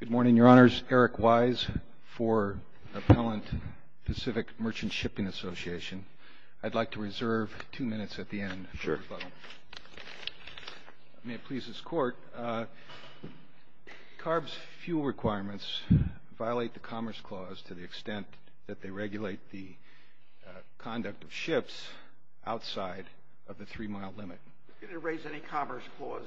Good morning, Your Honors. Eric Wise for Appellant Pacific Merchant Shipping Association. I'd like to reserve two minutes at the end for rebuttal. May it please this Court, CARB's fuel requirements violate the Commerce Clause to the extent that they regulate the conduct of ships outside of the three-mile limit. You didn't raise any Commerce Clause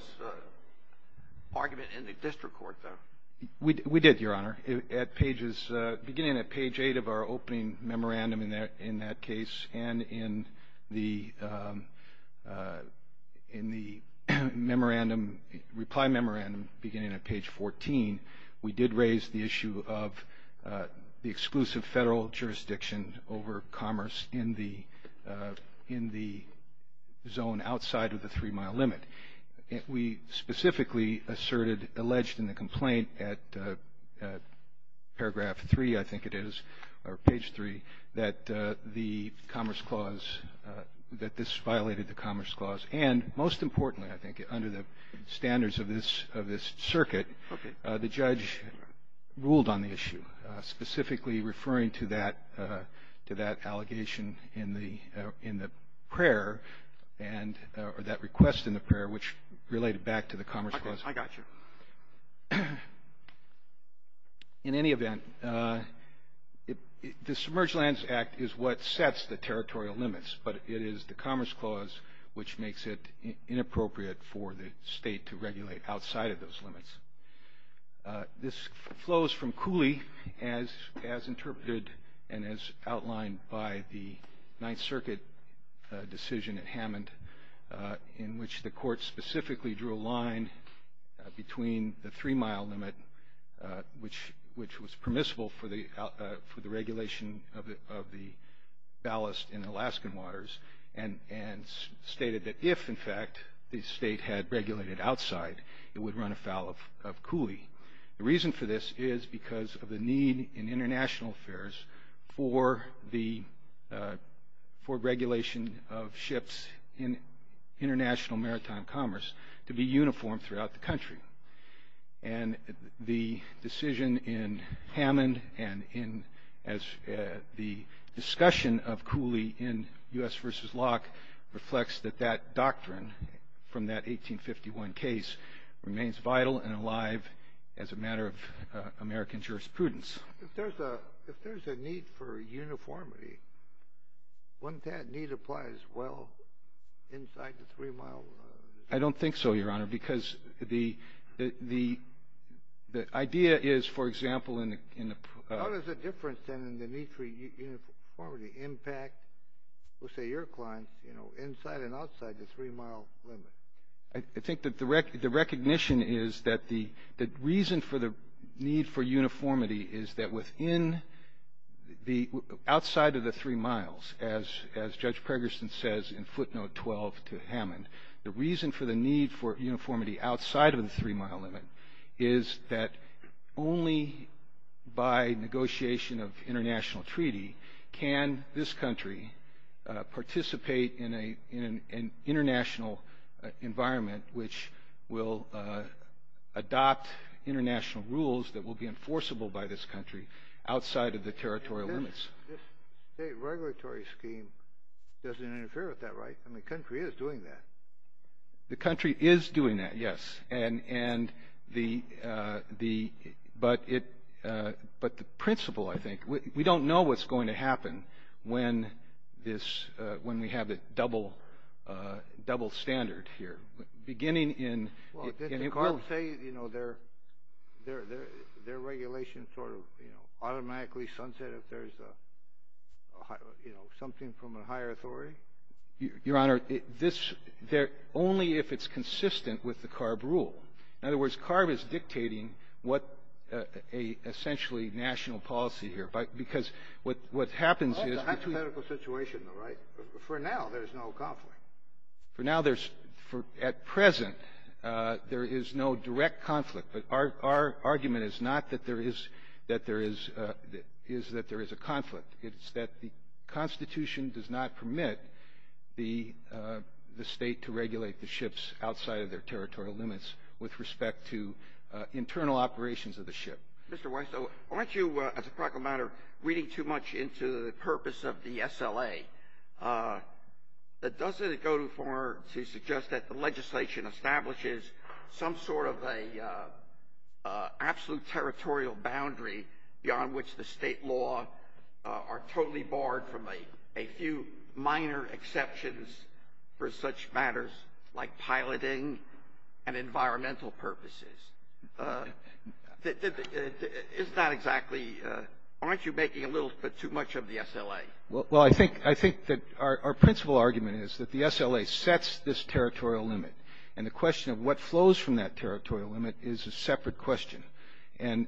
argument in the District Court, though. We did, Your Honor. Beginning at page 8 of our opening memorandum in that case and in the reply memorandum beginning at page 14, we did raise the issue of the exclusive federal jurisdiction over commerce in the zone outside of the three-mile limit. We specifically asserted, alleged in the complaint at paragraph 3, I think it is, or page 3, that the Commerce Clause, that this violated the Commerce Clause. And most importantly, I think, under the standards of this circuit, the judge ruled on the issue, specifically referring to that allegation in the prayer or that request in the prayer, which related back to the Commerce Clause. I got you. In any event, the Submerged Lands Act is what sets the territorial limits, but it is the Commerce Clause which makes it inappropriate for the state to regulate outside of those limits. This flows from Cooley as interpreted and as outlined by the Ninth Circuit decision at Hammond, in which the court specifically drew a line between the three-mile limit, which was permissible for the regulation of the ballast in Alaskan waters, and stated that if, in fact, the state had regulated outside, it would run afoul of Cooley. The reason for this is because of the need in international affairs for regulation of ships in international maritime commerce to be uniform throughout the country. And the decision in Hammond and in the discussion of Cooley in U.S. v. Locke reflects that that doctrine from that 1851 case remains vital and alive as a matter of American jurisprudence. If there's a need for uniformity, wouldn't that need apply as well inside the three-mile limit? I don't think so, Your Honor, because the idea is, for example, in the— How does the difference then in the need for uniformity impact, let's say, your clients, you know, inside and outside the three-mile limit? I think that the recognition is that the reason for the need for uniformity is that within the— outside of the three miles, as Judge Pregerson says in footnote 12 to Hammond, the reason for the need for uniformity outside of the three-mile limit is that only by negotiation of international treaty can this country participate in an international environment which will adopt international rules that will be enforceable by this country outside of the territorial limits. This state regulatory scheme doesn't interfere with that, right? I mean, the country is doing that. The country is doing that, yes, but the principle, I think— we don't know what's going to happen when we have a double standard here, beginning in— Well, did the CARB say, you know, their regulations sort of, you know, automatically sunset if there's a, you know, something from a higher authority? Your Honor, this—only if it's consistent with the CARB rule. In other words, CARB is dictating what a—essentially national policy here, because what happens is— That's a medical situation, though, right? For now, there's no conflict. For now, there's—at present, there is no direct conflict, but our argument is not that there is a conflict. It's that the Constitution does not permit the state to regulate the ships outside of their territorial limits with respect to internal operations of the ship. Mr. Weiss, aren't you, as a practical matter, reading too much into the purpose of the SLA? Doesn't it go too far to suggest that the legislation establishes some sort of an absolute territorial boundary beyond which the state law are totally barred from a few minor exceptions for such matters like piloting and environmental purposes? Isn't that exactly—aren't you making a little bit too much of the SLA? Well, I think that our principal argument is that the SLA sets this territorial limit, and the question of what flows from that territorial limit is a separate question. And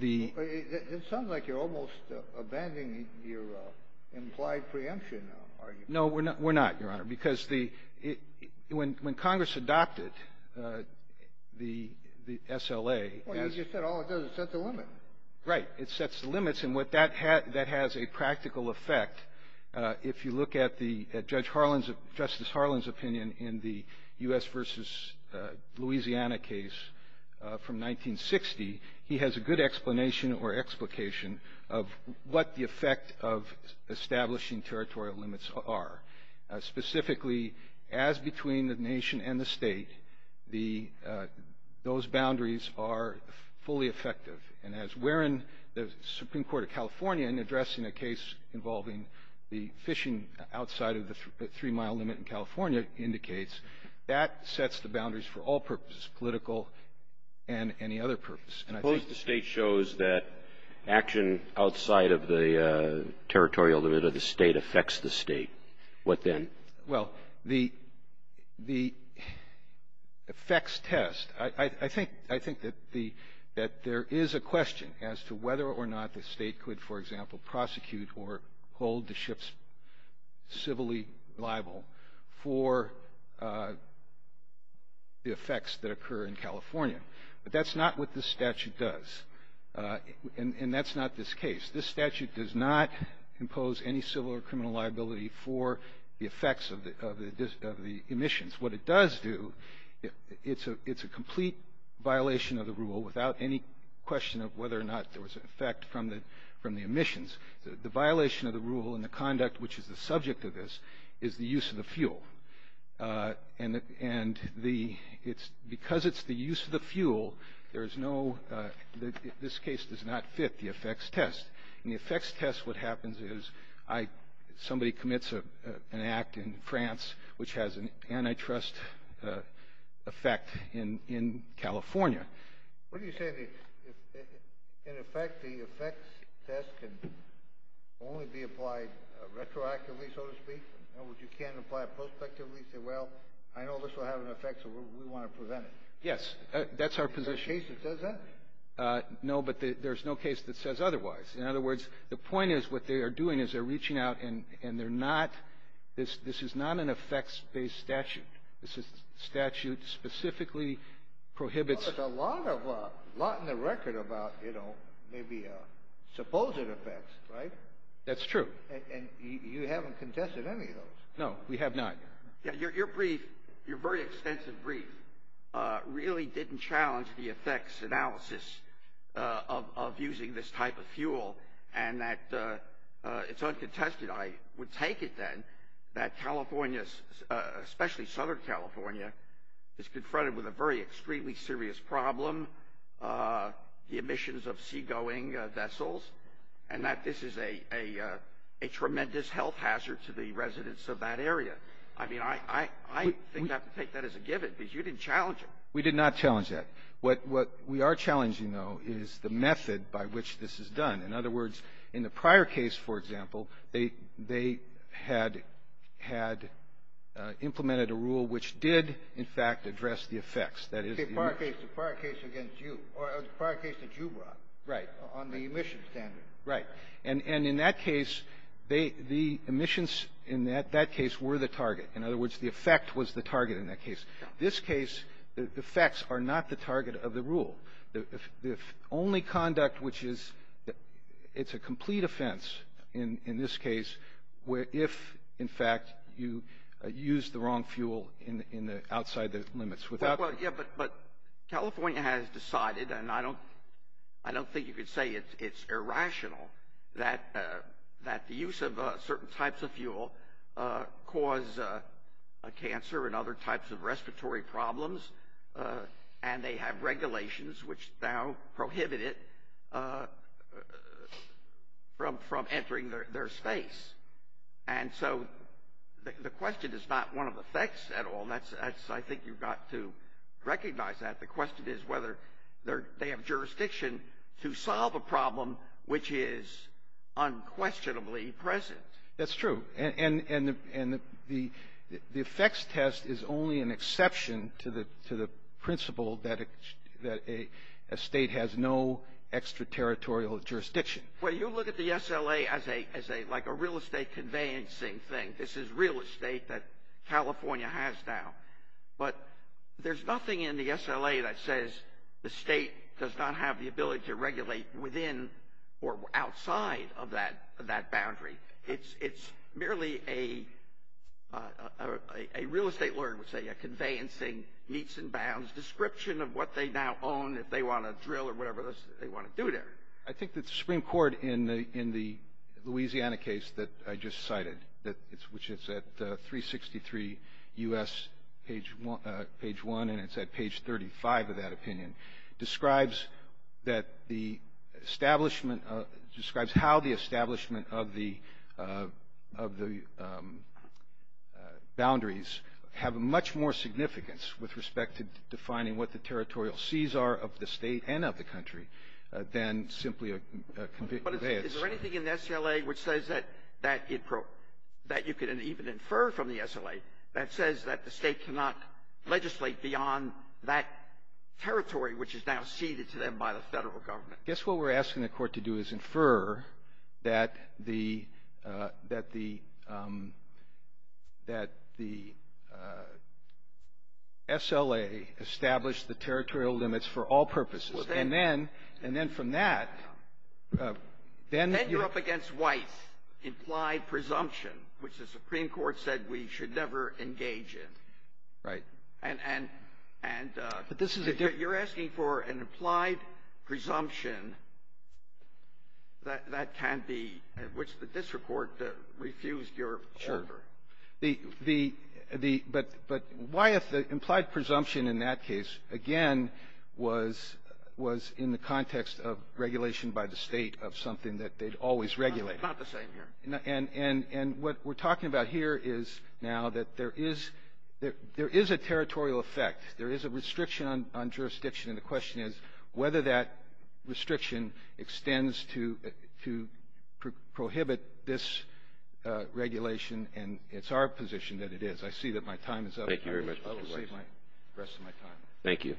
the— It sounds like you're almost abandoning your implied preemption argument. No, we're not, Your Honor, because when Congress adopted the SLA— Well, you said all it does is set the limit. Right. It sets the limits, and what that has a practical effect, if you look at Justice Harlan's opinion in the U.S. versus Louisiana case from 1960, he has a good explanation or explication of what the effect of establishing territorial limits are. Specifically, as between the nation and the state, those boundaries are fully effective. And as Warren, the Supreme Court of California, in addressing a case involving the fishing outside of the three-mile limit in California, indicates, that sets the boundaries for all purposes, political and any other purpose. Suppose the State shows that action outside of the territorial limit of the State affects the State. What then? Well, the effects test. I think that there is a question as to whether or not the State could, for example, prosecute or hold the ships civilly liable for the effects that occur in California. But that's not what this statute does. And that's not this case. This statute does not impose any civil or criminal liability for the effects of the emissions. What it does do, it's a complete violation of the rule, without any question of whether or not there was an effect from the emissions. The violation of the rule and the conduct which is the subject of this is the use of the fuel. And because it's the use of the fuel, there is no, this case does not fit the effects test. In the effects test, what happens is somebody commits an act in France, which has an antitrust effect in California. What do you say, in effect, the effects test can only be applied retroactively, so to speak? In other words, you can't apply it prospectively and say, well, I know this will have an effect, so we want to prevent it. Yes, that's our position. Is there a case that says that? No, but there's no case that says otherwise. In other words, the point is what they are doing is they're reaching out and they're not, this is not an effects-based statute. This statute specifically prohibits. Well, there's a lot in the record about, you know, maybe supposed effects, right? That's true. And you haven't contested any of those. No, we have not. Your brief, your very extensive brief, really didn't challenge the effects analysis of using this type of fuel, and that it's uncontested. I would take it, then, that California, especially Southern California, is confronted with a very extremely serious problem, the emissions of seagoing vessels, and that this is a tremendous health hazard to the residents of that area. I mean, I think you have to take that as a given, because you didn't challenge it. We did not challenge that. What we are challenging, though, is the method by which this is done. In other words, in the prior case, for example, they had implemented a rule which did, in fact, address the effects. The prior case against you, or the prior case that you brought. Right. On the emission standard. Right. And in that case, the emissions in that case were the target. In other words, the effect was the target in that case. This case, the effects are not the target of the rule. The only conduct which is, it's a complete offense in this case, if, in fact, you use the wrong fuel outside the limits. But California has decided, and I don't think you could say it's irrational, that the use of certain types of fuel cause cancer and other types of respiratory problems, and they have regulations which now prohibit it from entering their space. And so the question is not one of effects at all. I think you've got to recognize that. The question is whether they have jurisdiction to solve a problem which is unquestionably present. That's true. And the effects test is only an exception to the principle that a state has no extraterritorial jurisdiction. Well, you look at the SLA as like a real estate conveyancing thing. This is real estate that California has now. But there's nothing in the SLA that says the state does not have the ability to regulate within or outside of that boundary. It's merely a real estate lawyer would say a conveyancing, meets and bounds, description of what they now own if they want to drill or whatever they want to do there. I think that the Supreme Court in the Louisiana case that I just cited, which is at 363 U.S. page 1, and it's at page 35 of that opinion, describes how the establishment of the boundaries have much more significance with respect to defining what the territorial seas are of the state and of the country than simply a conveyance. But is there anything in the SLA which says that you can even infer from the SLA that says that the state cannot legislate beyond that territory which is now ceded to them by the Federal Government? I guess what we're asking the Court to do is infer that the SLA established the territorial limits for all purposes. And then from that, then you're up against White's implied presumption, which the Supreme Court said we should never engage in. Right. And you're asking for an implied presumption that that can be, which the district court refused your order. Sure. But why if the implied presumption in that case, again, was in the context of regulation by the State of something that they'd always regulated? It's not the same here. And what we're talking about here is now that there is a territorial effect. There is a restriction on jurisdiction. And the question is whether that restriction extends to prohibit this regulation. And it's our position that it is. I see that my time is up. Thank you very much. I will save the rest of my time. Thank you.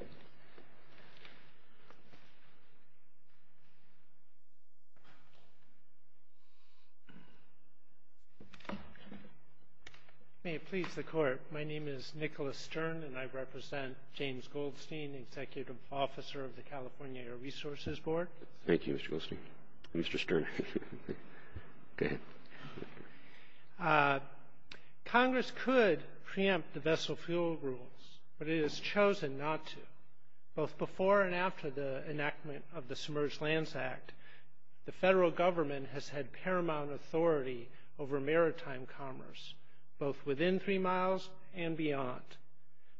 May it please the Court. My name is Nicholas Stern, and I represent James Goldstein, Executive Officer of the California Air Resources Board. Thank you, Mr. Goldstein. Mr. Stern. Go ahead. Congress could preempt the vessel fuel rules, but it has chosen not to. Both before and after the enactment of the Submerged Lands Act, the federal government has had paramount authority over maritime commerce, both within three miles and beyond.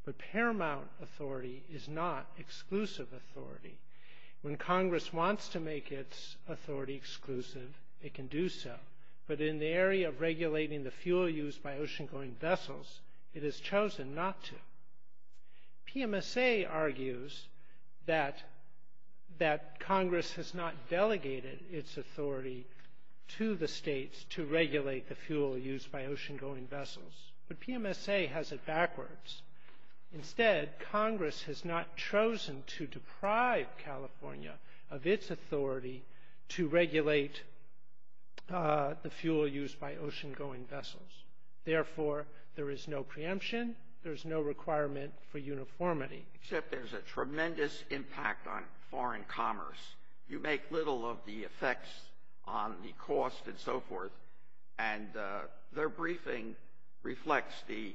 But paramount authority is not exclusive authority. When Congress wants to make its authority exclusive, it can do so. But in the area of regulating the fuel used by ocean-going vessels, it has chosen not to. PMSA argues that Congress has not delegated its authority to the states to regulate the fuel used by ocean-going vessels, but PMSA has it backwards. Instead, Congress has not chosen to deprive California of its authority to regulate the fuel used by ocean-going vessels. Therefore, there is no preemption. There is no requirement for uniformity. Except there's a tremendous impact on foreign commerce. You make little of the effects on the cost and so forth, and their briefing reflects the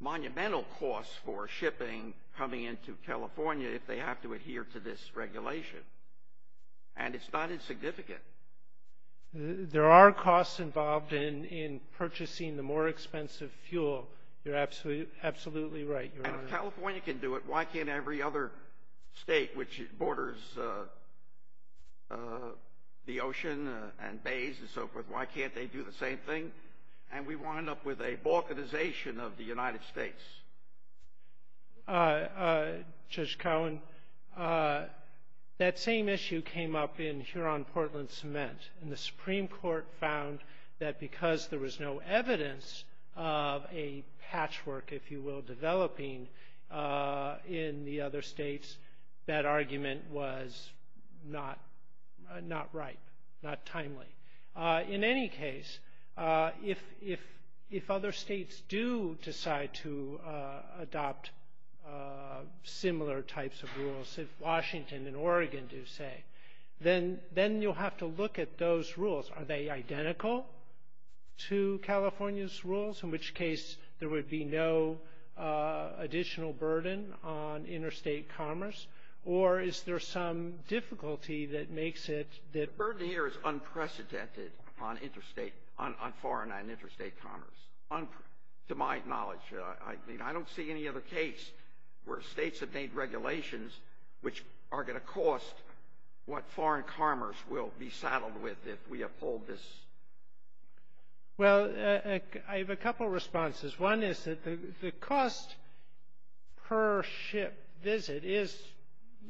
monumental cost for shipping coming into California if they have to adhere to this regulation. And it's not insignificant. There are costs involved in purchasing the more expensive fuel. You're absolutely right, Your Honor. And if California can do it, why can't every other state which borders the ocean and bays and so forth, why can't they do the same thing? And we wind up with a balkanization of the United States. Judge Cowen, that same issue came up in Huron-Portland Cement. And the Supreme Court found that because there was no evidence of a patchwork, if you will, developing in the other states, that argument was not right, not timely. In any case, if other states do decide to adopt similar types of rules, if Washington and Oregon do, say, then you'll have to look at those rules. Are they identical to California's rules, in which case there would be no additional burden on interstate commerce? Or is there some difficulty that makes it that ‑‑ The burden here is unprecedented on foreign and interstate commerce, to my knowledge. I don't see any other case where states have made regulations which are going to cost what foreign commerce will be saddled with if we uphold this. Well, I have a couple of responses. One is that the cost per ship visit is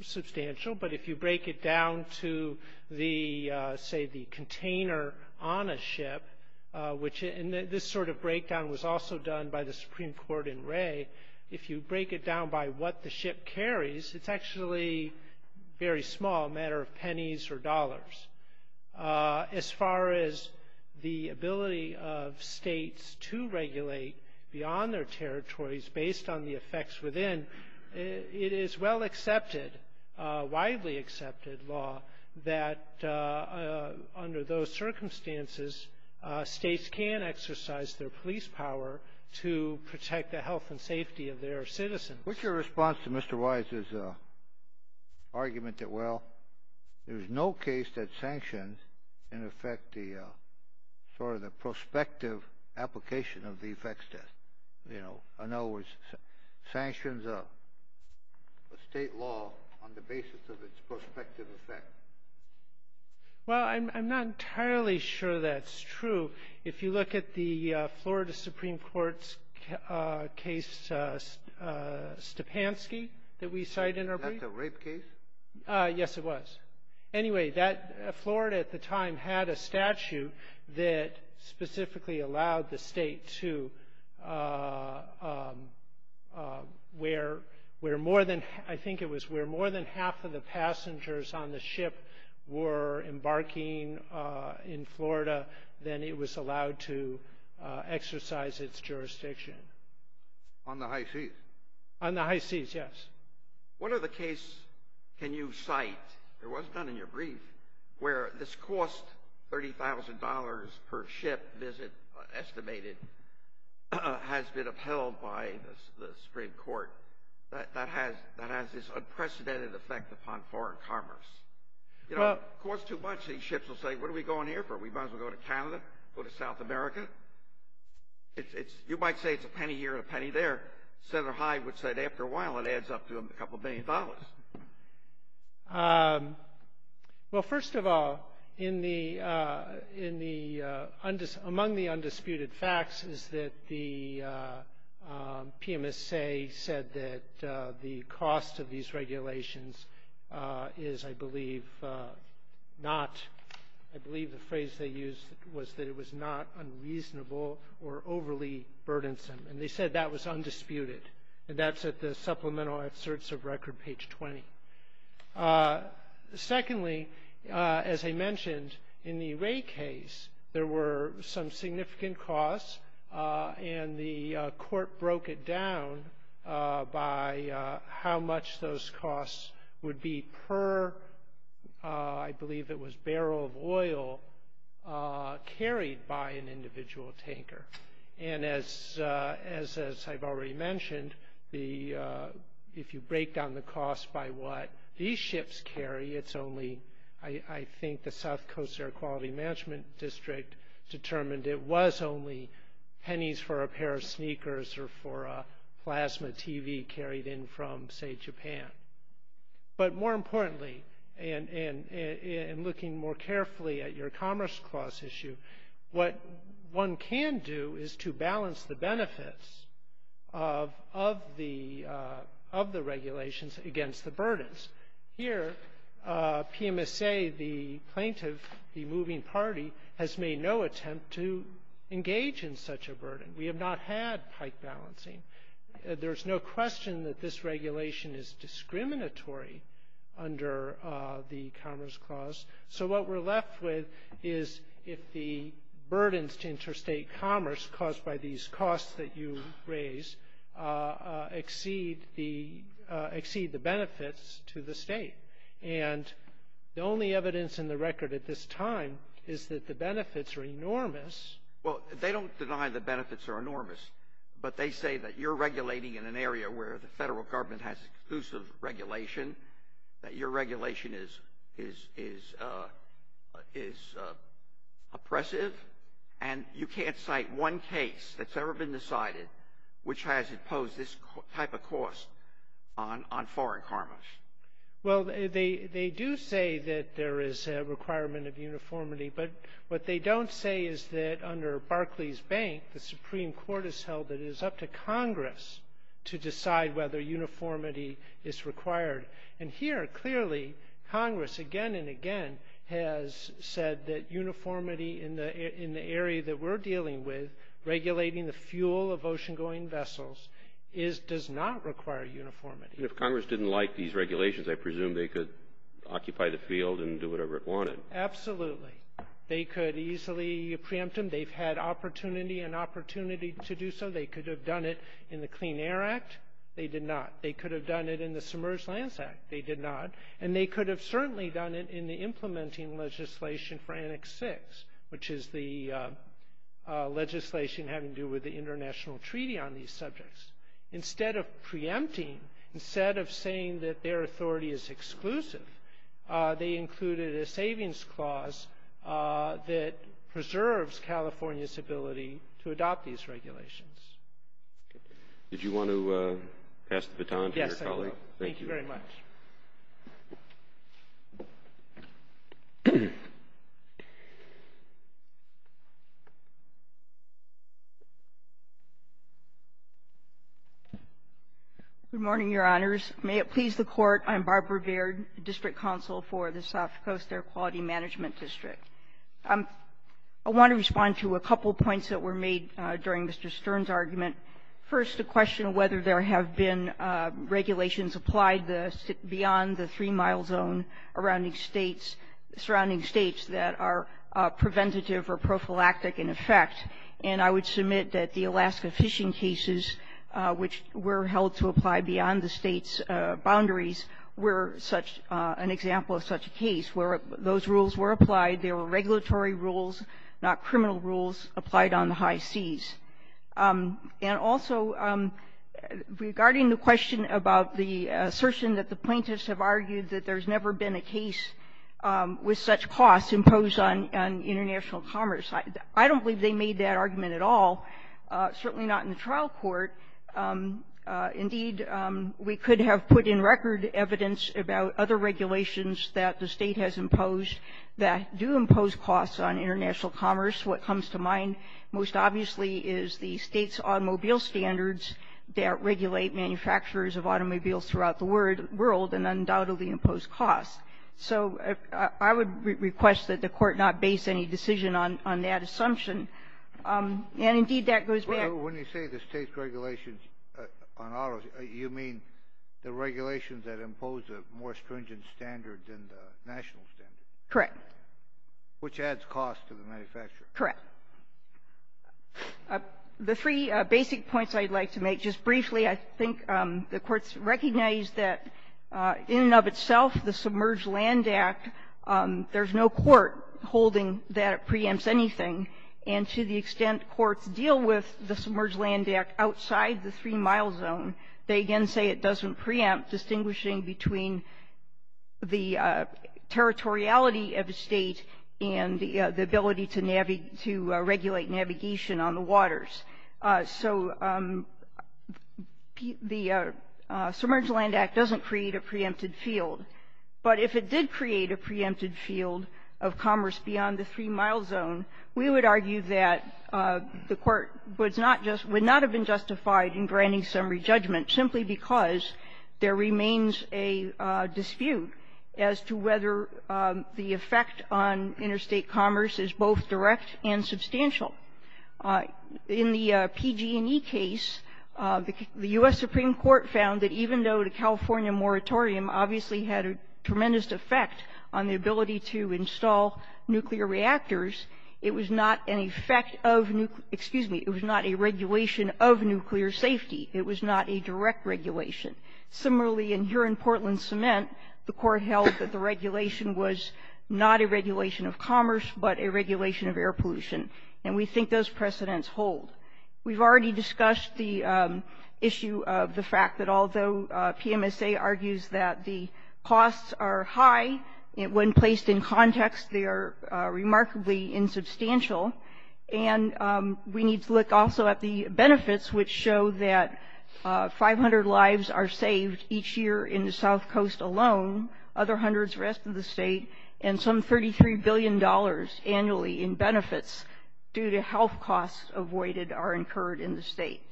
substantial, but if you break it down to, say, the container on a ship, and this sort of breakdown was also done by the Supreme Court in Ray, if you break it down by what the ship carries, it's actually very small, a matter of pennies or dollars. As far as the ability of states to regulate beyond their territories based on the effects within, it is well accepted, widely accepted law, that under those circumstances states can exercise their police power to protect the health and safety of their citizens. What's your response to Mr. Wise's argument that, well, there's no case that sanctions can affect the prospective application of the effects test? You know, in other words, sanctions are a state law on the basis of its prospective effect. Well, I'm not entirely sure that's true. If you look at the Florida Supreme Court's case, Stepanski, that we cite in our brief. That's a rape case? Yes, it was. Anyway, Florida at the time had a statute that specifically allowed the state to, where more than, I think it was where more than half of the passengers on the ship were embarking in Florida, then it was allowed to exercise its jurisdiction. On the high seas? On the high seas, yes. What other case can you cite, it was done in your brief, where this cost, $30,000 per ship visit estimated, has been upheld by the Supreme Court that has this unprecedented effect upon foreign commerce? You know, it costs too much. These ships will say, what are we going here for? We might as well go to Canada, go to South America. You might say it's a penny here and a penny there. Senator Hyde would say that after a while it adds up to a couple of million dollars. Well, first of all, among the undisputed facts is that the PMSA said that the cost of these regulations is, I believe, not, I believe the phrase they used was that it was not unreasonable or overly burdensome. And they said that was undisputed. And that's at the supplemental asserts of record, page 20. Secondly, as I mentioned, in the Ray case, there were some significant costs, and the court broke it down by how much those costs would be per, I believe it was barrel of oil, carried by an individual tanker. And as I've already mentioned, if you break down the cost by what these ships carry, it's only, I think the South Coast Air Quality Management District determined it was only pennies for a pair of sneakers or for a plasma TV carried in from, say, Japan. But more importantly, and looking more carefully at your Commerce Clause issue, what one can do is to balance the benefits of the regulations against the burdens. Here, PMSA, the plaintiff, the moving party, has made no attempt to engage in such a burden. We have not had pike balancing. There's no question that this regulation is discriminatory under the Commerce Clause. So what we're left with is if the burdens to interstate commerce caused by these costs that you raise exceed the benefits to the state. And the only evidence in the record at this time is that the benefits are enormous. Well, they don't deny the benefits are enormous, but they say that you're regulating in an area where the federal government has exclusive regulation, that your regulation is oppressive, and you can't cite one case that's ever been decided which has imposed this type of cost on foreign commerce. Well, they do say that there is a requirement of uniformity, but what they don't say is that under Barclays Bank the Supreme Court has held that it is up to Congress to decide whether uniformity is required. And here, clearly, Congress again and again has said that uniformity in the area that we're dealing with, regulating the fuel of ocean-going vessels, does not require uniformity. And if Congress didn't like these regulations, I presume they could occupy the field and do whatever it wanted. Absolutely. They could easily preempt them. They've had opportunity and opportunity to do so. They could have done it in the Clean Air Act. They did not. They could have done it in the Submerged Lands Act. They did not. And they could have certainly done it in the implementing legislation for Annex 6, which is the legislation having to do with the international treaty on these subjects. Instead of preempting, instead of saying that their authority is exclusive, they included a savings clause that preserves California's ability to adopt these regulations. Did you want to pass the baton to your colleague? Yes, I will. Thank you very much. Good morning, Your Honors. May it please the Court, I'm Barbara Baird, District Counsel for the South Coast Air Quality Management District. I want to respond to a couple of points that were made during Mr. Stern's argument. First, the question of whether there have been regulations applied beyond the three-mile zone surrounding states that are preventative or prophylactic in effect. And I would submit that the Alaska fishing cases, which were held to apply beyond the state's boundaries, were such an example of such a case where those rules were applied. They were regulatory rules, not criminal rules applied on the high seas. And also, regarding the question about the assertion that the plaintiffs have argued that there's never been a case with such costs imposed on international commerce, I don't believe they made that argument at all, certainly not in the trial court. Indeed, we could have put in record evidence about other regulations that the State has imposed that do impose costs on international commerce. What comes to mind most obviously is the State's automobile standards that regulate manufacturers of automobiles throughout the world and undoubtedly impose costs. So I would request that the Court not base any decision on that assumption. And, indeed, that goes back to the State's regulations on automobiles. You mean the regulations that impose a more stringent standard than the national standard? Correct. Which adds costs to the manufacturer. Correct. The three basic points I'd like to make, just briefly, I think the Court's recognized that in and of itself the Submerged Land Act, there's no court holding that it preempts anything. And to the extent courts deal with the Submerged Land Act outside the three-mile zone, they again say it doesn't preempt, distinguishing between the territoriality of the State and the ability to regulate navigation on the waters. So the Submerged Land Act doesn't create a preempted field. But if it did create a preempted field of commerce beyond the three-mile zone, we would argue that the Court would not have been justified in granting summary judgment simply because there remains a dispute as to whether the effect on interstate commerce is both direct and substantial. In the PG&E case, the U.S. Supreme Court found that even though the California moratorium obviously had a tremendous effect on the ability to install nuclear reactors, it was not an effect of new – excuse me, it was not a regulation of nuclear safety. It was not a direct regulation. Similarly, in here in Portland Cement, the Court held that the regulation was not a regulation of commerce but a regulation of air pollution. And we think those precedents hold. We've already discussed the issue of the fact that although PMSA argues that the costs are high, when placed in context they are remarkably insubstantial. And we need to look also at the benefits, which show that 500 lives are saved each year in the South Coast alone, other hundreds the rest of the state, and some $33 billion annually in benefits due to health costs avoided are incurred in the state.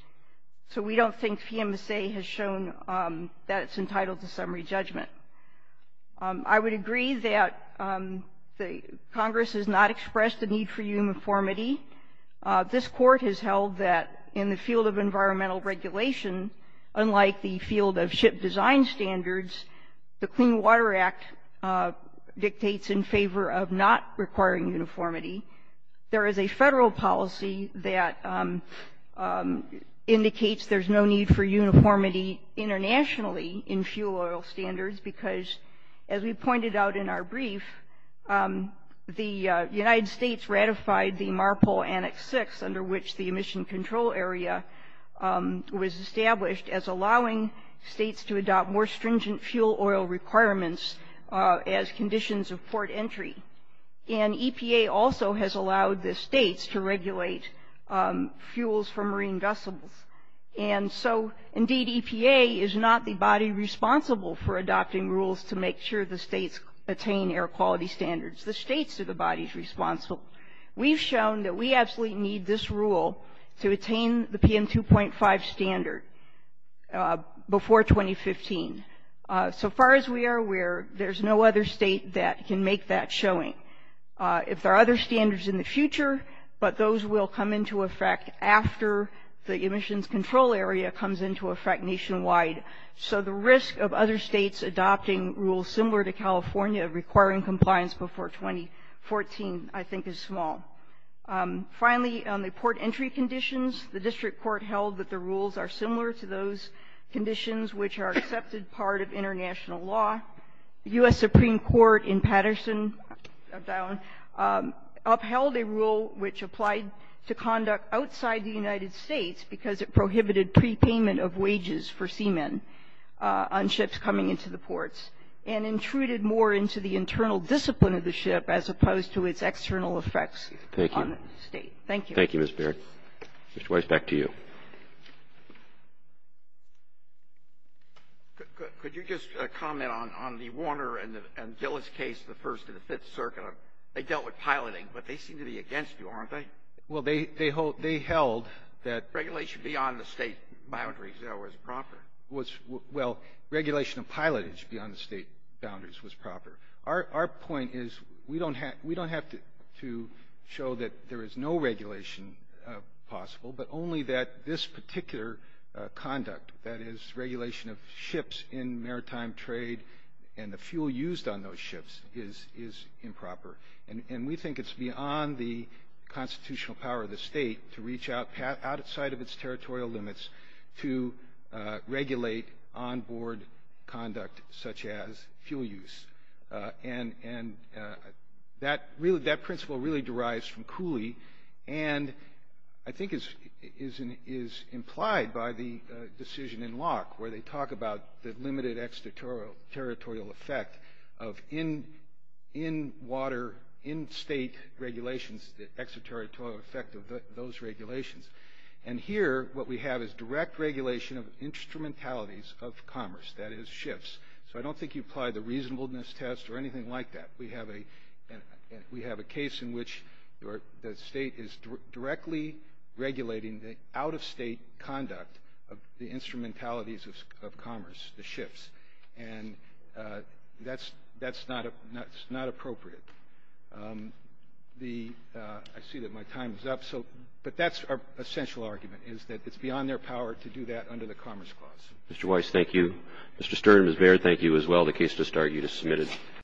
So we don't think PMSA has shown that it's entitled to summary judgment. I would agree that Congress has not expressed a need for uniformity. This Court has held that in the field of environmental regulation, unlike the field of ship design standards, the Clean Water Act dictates in favor of not requiring uniformity. There is a federal policy that indicates there's no need for uniformity internationally in fuel oil standards because, as we pointed out in our brief, the United States ratified the MARPOL Annex 6, under which the emission control area was established, as allowing states to adopt more stringent fuel oil requirements as conditions of port entry. And EPA also has allowed the states to regulate fuels for marine vessels. And so, indeed, EPA is not the body responsible for adopting rules to make sure the states attain air quality standards. The states are the bodies responsible. We've shown that we absolutely need this rule to attain the PM 2.5 standard before 2015. So far as we are aware, there's no other state that can make that showing. If there are other standards in the future, but those will come into effect after the emissions control area comes into effect nationwide. So the risk of other states adopting rules similar to California requiring compliance before 2014, I think, is small. Finally, on the port entry conditions, the district court held that the rules are similar to those conditions which are accepted part of international law. The U.S. Supreme Court in Patterson upheld a rule which applied to conduct outside the United States because it prohibited prepayment of wages for seamen on ships coming into the ports and intruded more into the internal discipline of the ship as opposed to its external effects on the state. Thank you. Thank you, Ms. Baird. Mr. Weiss, back to you. Could you just comment on the Warner and Dillis case, the First and the Fifth Circuit? They dealt with piloting, but they seem to be against you, aren't they? Well, they held that regulation of pilotage beyond the state boundaries was proper. Our point is we don't have to show that there is no regulation possible, but only that this particular conduct, that is, regulation of ships in maritime trade and the fuel used on those ships, is improper. And we think it's beyond the constitutional power of the state to reach outside of its territorial limits to regulate onboard conduct such as fuel use. And that principle really derives from Cooley and I think is implied by the decision in Locke where they talk about the limited extraterritorial effect of in-water, in-state regulations, the extraterritorial effect of those regulations. And here what we have is direct regulation of instrumentalities of commerce, that is, ships. So I don't think you apply the reasonableness test or anything like that. We have a case in which the state is directly regulating the out-of-state conduct of the instrumentalities of commerce, the ships. And that's not appropriate. I see that my time is up. But that's our essential argument is that it's beyond their power to do that under the Commerce Clause. Mr. Weiss, thank you. Mr. Stern, Ms. Baird, thank you as well. The case does start. You just submitted.